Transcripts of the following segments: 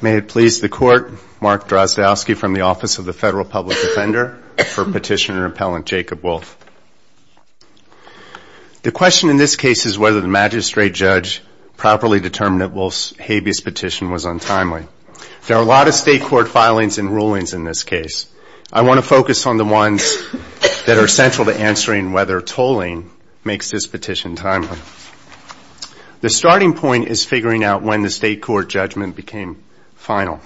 May it please the Court, Mark Drozdowski from the Office of the Federal Public Defender for Petitioner-Appellant Jacob Wolf. The question in this case is whether the magistrate judge properly determined that Wolf's habeas petition was untimely. There are a lot of state court filings and rulings in this case. I want to focus on the ones that are central to answering whether tolling makes this petition timely. The starting point is figuring out when the state court judgment became final.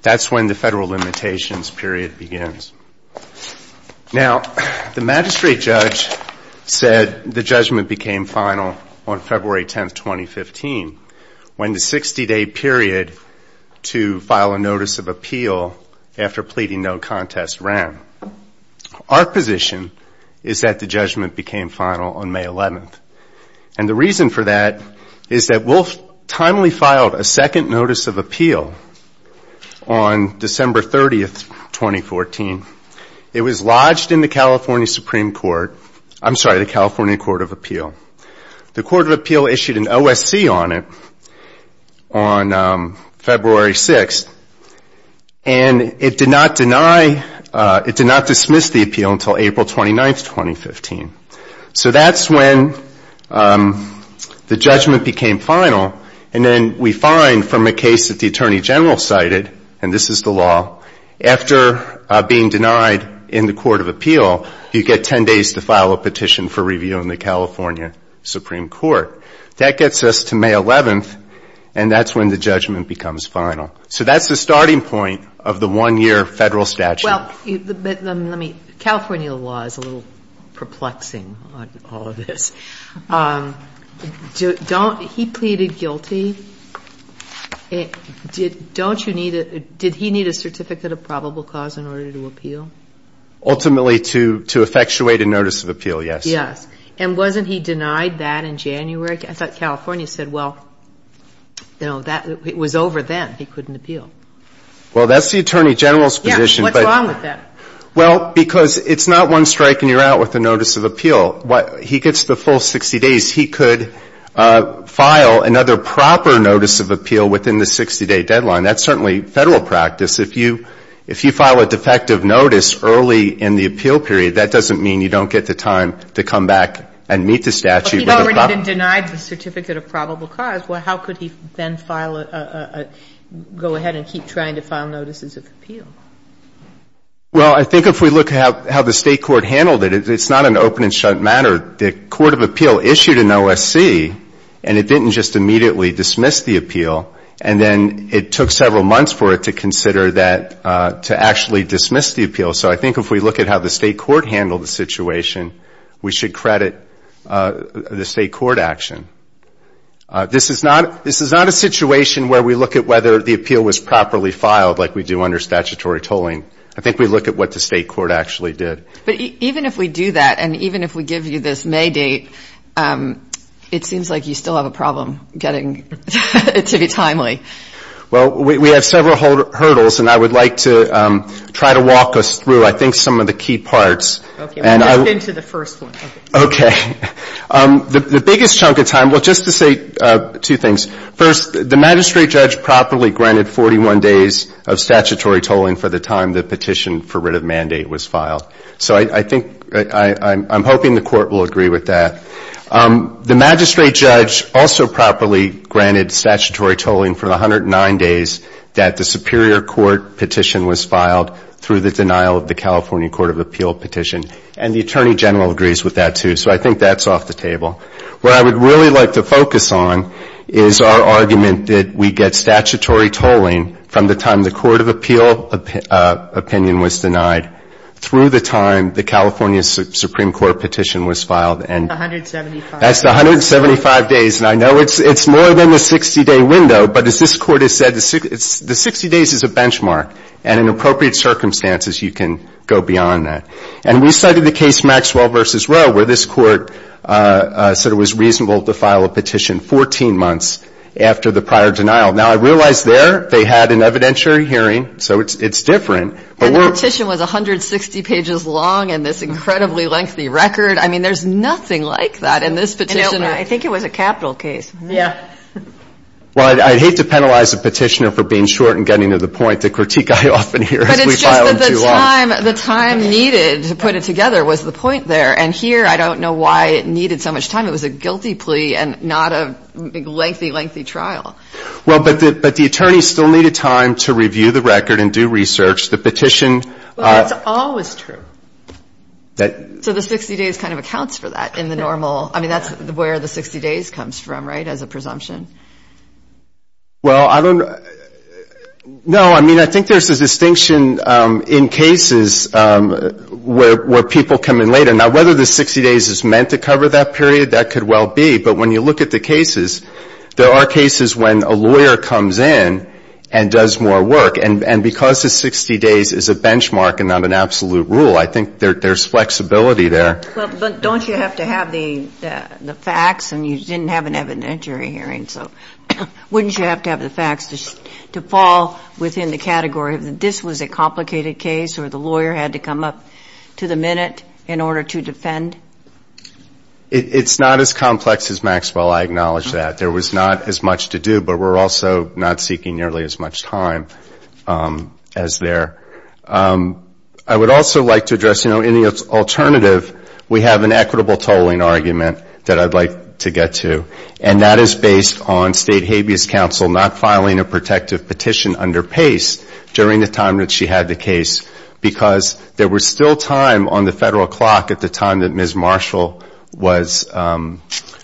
That's when the federal limitations period begins. The magistrate judge said the judgment became final on February 10, 2015, when the 60-day period to file a notice of appeal after pleading no contest ran. Our position is that the judgment became final on May 11. And the reason for that is that Wolf timely filed a second notice of appeal on December 30, 2014. It was lodged in the California Supreme Court, I'm sorry, the California Court of Appeal. The Court of Appeal issued an OSC on it on February 6, and it did not deny, it did not dismiss the appeal until April 29, 2015. So that's when the judgment became final. And then we find from a case that the Attorney General cited, and this is the law, after being denied in the Court of Appeal, you get 10 days to file a petition for review in the California Supreme Court. That gets us to May 11, and that's when the judgment becomes final. So that's the starting point of the one-year federal statute. Well, let me, California law is a little perplexing on all of this. Don't, he pleaded guilty. Don't you need a, did he need a certificate of probable cause in order to appeal? Ultimately to effectuate a notice of appeal, yes. Yes. And wasn't he denied that in January? I thought California said, well, you know, that was over then. He couldn't appeal. Well, that's the Attorney General's position. Yes. What's wrong with that? Well, because it's not one strike and you're out with a notice of appeal. What, he gets the full 60 days. He could file another proper notice of appeal within the 60-day deadline. That's certainly federal practice. If you, if you file a defective notice early in the appeal period, that doesn't mean you don't get the time to come back and meet the statute with a vote. The Court even denied the certificate of probable cause. Well, how could he then file a, go ahead and keep trying to file notices of appeal? Well, I think if we look at how the State court handled it, it's not an open and shut matter. The court of appeal issued an OSC and it didn't just immediately dismiss the appeal. And then it took several months for it to consider that, to actually dismiss the appeal. So I think if we look at how the State court handled the situation, we should credit the State court action. This is not, this is not a situation where we look at whether the appeal was properly filed like we do under statutory tolling. I think we look at what the State court actually did. But even if we do that and even if we give you this May date, it seems like you still have a problem getting it to be timely. Well, we have several hurdles and I would like to try to walk us through, I think, some of the key parts. Okay. We'll jump into the first one. Okay. The biggest chunk of time, well, just to say two things. First, the magistrate judge properly granted 41 days of statutory tolling for the time the petition for writ of mandate was filed. So I think, I'm hoping the court will agree with that. The magistrate judge also properly granted statutory tolling for the 109 days that the superior court petition was filed through the denial of the petition. And the attorney general agrees with that, too. So I think that's off the table. What I would really like to focus on is our argument that we get statutory tolling from the time the court of appeal opinion was denied through the time the California Supreme Court petition was filed. That's 175 days. That's 175 days. And I know it's more than the 60-day window, but as this court has said, the 60 days is a benchmark. And in appropriate circumstances, you can go beyond that. And we cited the case Maxwell v. Roe, where this court said it was reasonable to file a petition 14 months after the prior denial. Now, I realize there they had an evidentiary hearing, so it's different. But that petition was 160 pages long and this incredibly lengthy record. I mean, there's nothing like that in this petition. I think it was a capital case. Yeah. Well, I'd hate to penalize a petitioner for being short and getting to the point. The critique I often hear is we filed them too long. The time needed to put it together was the point there. And here, I don't know why it needed so much time. It was a guilty plea and not a lengthy, lengthy trial. Well, but the attorneys still needed time to review the record and do research. The petition — Well, that's always true. That — So the 60 days kind of accounts for that in the normal — I mean, that's where the 60 days comes from, right, as a presumption? Well, I don't know. No, I mean, I think there's a distinction in cases where people come in later. Now, whether the 60 days is meant to cover that period, that could well be. But when you look at the cases, there are cases when a lawyer comes in and does more work. And because the 60 days is a benchmark and not an absolute rule, I think there's flexibility there. But don't you have to have the facts and you didn't have an evidentiary hearing, so wouldn't you have to have the facts to fall within the category that this was a complicated case or the lawyer had to come up to the minute in order to defend? It's not as complex as Maxwell. I acknowledge that. There was not as much to do, but we're also not seeking nearly as much time as there. I would also like to address, you know, in the alternative, we have an equitable tolling argument that I'd like to get to. And that is based on State Habeas Council not filing a protective petition under PACE during the time that she had the case, because there was still time on the federal clock at the time that Ms. Marshall was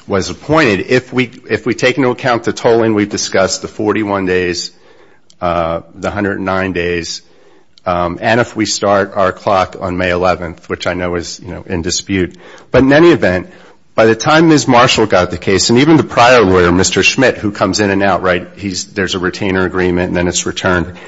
appointed. If we take into account the tolling we discussed, the 41 days, the 109 days, and if we start our clock on May 11th, which I know is in dispute, but in any event, by the time Ms. Marshall got the case, and even the prior lawyer, Mr. Schmidt, who comes in and out, right, there's a retainer agreement and then it's returned,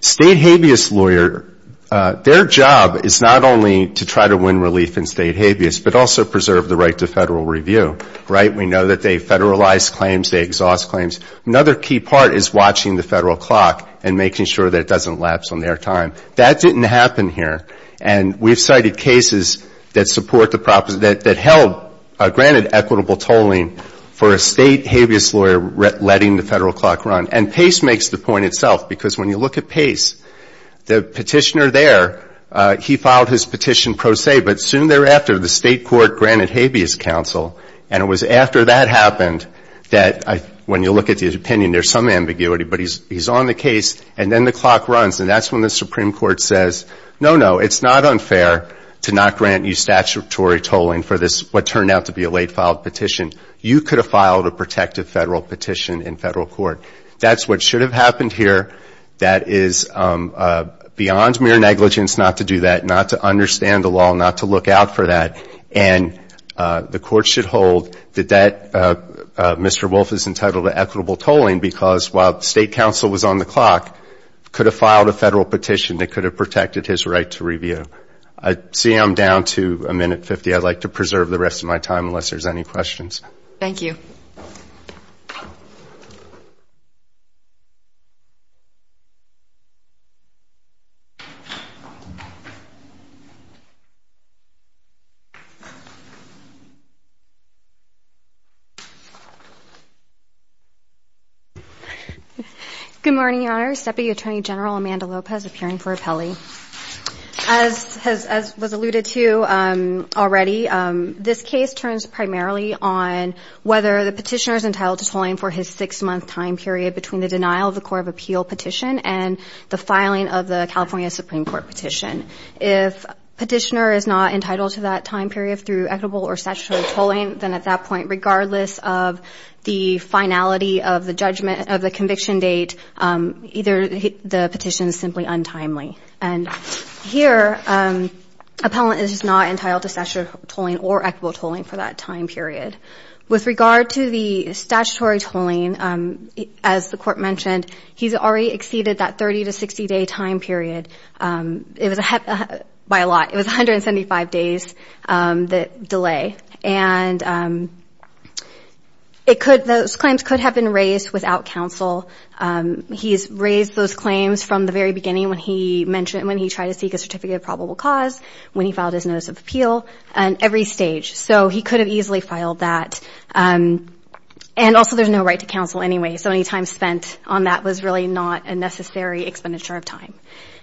State Habeas lawyer, their job is not only to try to win relief in State Habeas, but also preserve the right to federal review, right? We know that they federalize claims, they exhaust claims. Another key part is watching the federal clock and making sure that it doesn't lapse on their time. That didn't happen here. And we've provided cases that support the proposal, that held, granted equitable tolling for a State Habeas lawyer letting the federal clock run. And PACE makes the point itself, because when you look at PACE, the petitioner there, he filed his petition pro se, but soon thereafter, the State Court granted Habeas Council, and it was after that happened that, when you look at the opinion, there's some ambiguity, but he's on the case, and then the clock runs, and that's when the Supreme Court says, no, no, it's not unfair to not grant you statutory tolling for this, what turned out to be a late filed petition. You could have filed a protective federal petition in federal court. That's what should have happened here. That is beyond mere negligence not to do that, not to understand the law, not to look out for that. And the Court should hold that that, Mr. Wolf is entitled to equitable tolling, because while he filed a federal petition, it could have protected his right to review. Seeing I'm down to a minute fifty, I'd like to preserve the rest of my time, unless there's any questions. Thank you. Good morning, Your Honor. Deputy Attorney General Amanda Lopez appearing for appellee. As was alluded to already, this case turns primarily on the question whether the petitioner is entitled to tolling for his six-month time period between the denial of the Court of Appeal petition and the filing of the California Supreme Court petition. If petitioner is not entitled to that time period through equitable or statutory tolling, then at that point, regardless of the finality of the judgment of the conviction date, either the petition is simply untimely. And here, appellant is not entitled to that time period. With regard to the statutory tolling, as the Court mentioned, he's already exceeded that 30 to 60-day time period. It was by a lot. It was 175 days delay. And it could, those claims could have been raised without counsel. He's raised those claims from the very beginning when he mentioned when he tried to seek a certificate of probable cause, when he filed his notice of protection. And also, there's no right to counsel anyway. So any time spent on that was really not a necessary expenditure of time.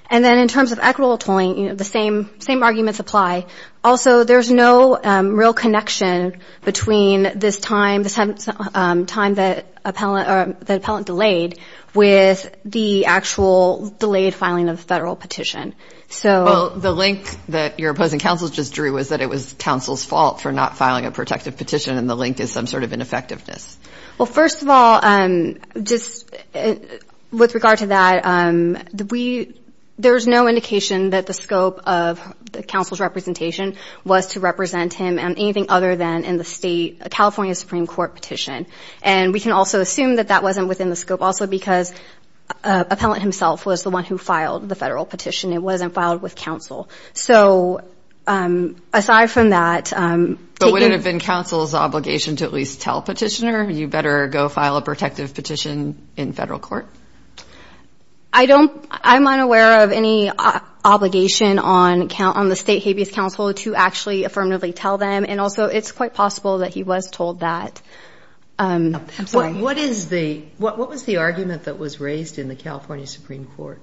And then in terms of equitable tolling, the same arguments apply. Also, there's no real connection between this time, the time that appellant delayed with the actual delayed filing of the federal petition. So... Well, the link that your opposing counsel just drew was that it was some sort of ineffectiveness. Well, first of all, just with regard to that, there's no indication that the scope of counsel's representation was to represent him on anything other than in the state, a California Supreme Court petition. And we can also assume that that wasn't within the scope also because appellant himself was the one who filed the federal petition. It wasn't filed with counsel. So aside from that... Would it have been counsel's obligation to at least tell petitioner, you better go file a protective petition in federal court? I'm unaware of any obligation on the state habeas counsel to actually affirmatively tell them. And also, it's quite possible that he was told that. I'm sorry. What was the argument that was raised in the California Supreme Court?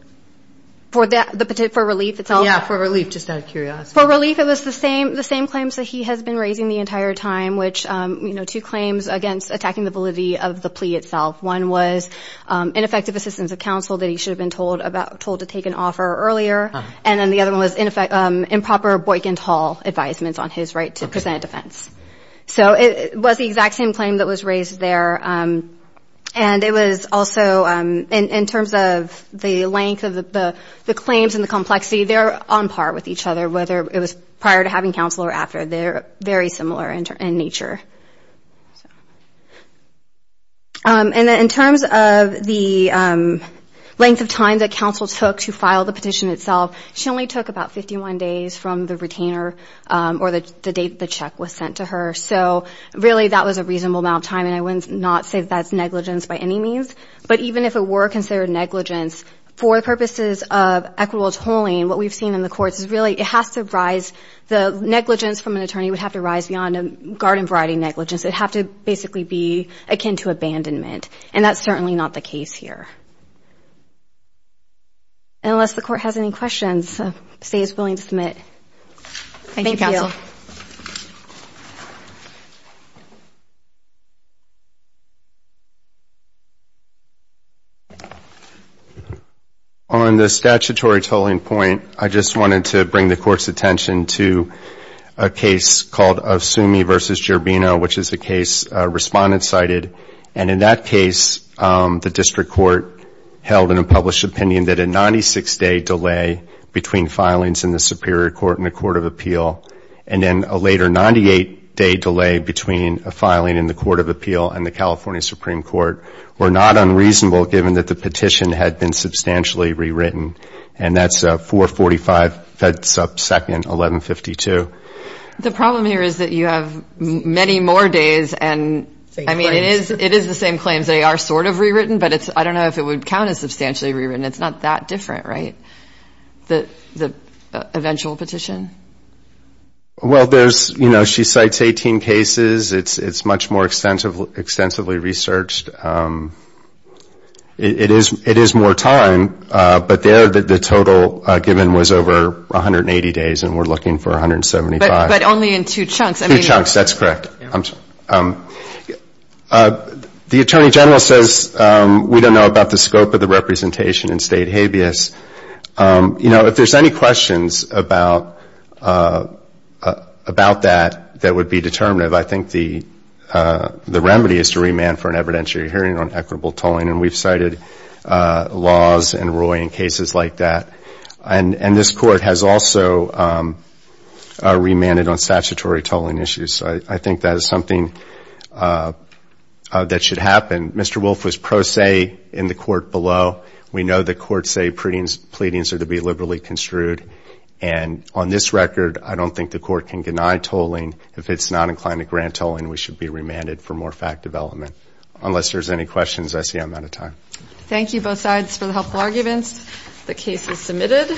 Yeah, for relief, just out of curiosity. For relief, it was the same claims that he has been raising the entire time, which, you know, two claims against attacking the validity of the plea itself. One was ineffective assistance of counsel that he should have been told to take an offer earlier. And then the other one was improper Boykent Hall advisements on his right to present a defense. So it was the exact same claim that was raised there. And it was also, in terms of the length of the claims and the complexity, they're on par with each other, whether it was prior to having counsel or after. They're very similar in nature. And then in terms of the length of time that counsel took to file the petition itself, she only took about 51 days from the retainer or the date the check was sent to her. So really, that was a reasonable amount of time. And I would not say that's negligence by any means. But even if it were considered negligence, for purposes of equitable tolling, what I would say, it has to rise, the negligence from an attorney would have to rise beyond a garden variety negligence. It would have to basically be akin to abandonment. And that's certainly not the case here. And unless the Court has any questions, I would say it's willing to submit. Thank you. Thank you, counsel. On the statutory tolling point, I just wanted to bring the Court's attention to a case called Ofsumi v. Gerbino, which is a case respondents cited. And in that case, the District Court held in a published opinion that a 96-day delay between filings in the Superior Court and the Court of Appeal, and then a later 98-day delay between a filing in the Court of Appeal and the California Supreme Court, were not unreasonable, given that the petition had been substantially rewritten. And that's 445 Fedsup 2nd, 1152. The problem here is that you have many more days and, I mean, it is the same claims. They are sort of rewritten, but I don't know if it would count as substantially rewritten. It's not that different, right, from the eventual petition? Well, there's, you know, she cites 18 cases. It's much more extensively researched. It is more time, but there the total given was over 180 days, and we're looking for 175. But only in two chunks. Two chunks, that's correct. The Attorney General says we don't know about the scope of the representation in State habeas. You know, if there's any questions about that that would be determinative, I think the remedy is to remand for an evidentiary hearing on equitable tolling, and we've cited laws and ruling cases like that. And this Court has also remanded on statutory tolling issues. I think that is something that should happen. Mr. Wolf was pro se in the Court below. We know the Courts say pleadings are to be liberally construed, and on this record I don't think the Court can deny tolling. If it's not inclined to grant tolling, we should be remanded for more fact development. Unless there's any questions, I see I'm out of time. Thank you both sides for the helpful arguments. The case is submitted.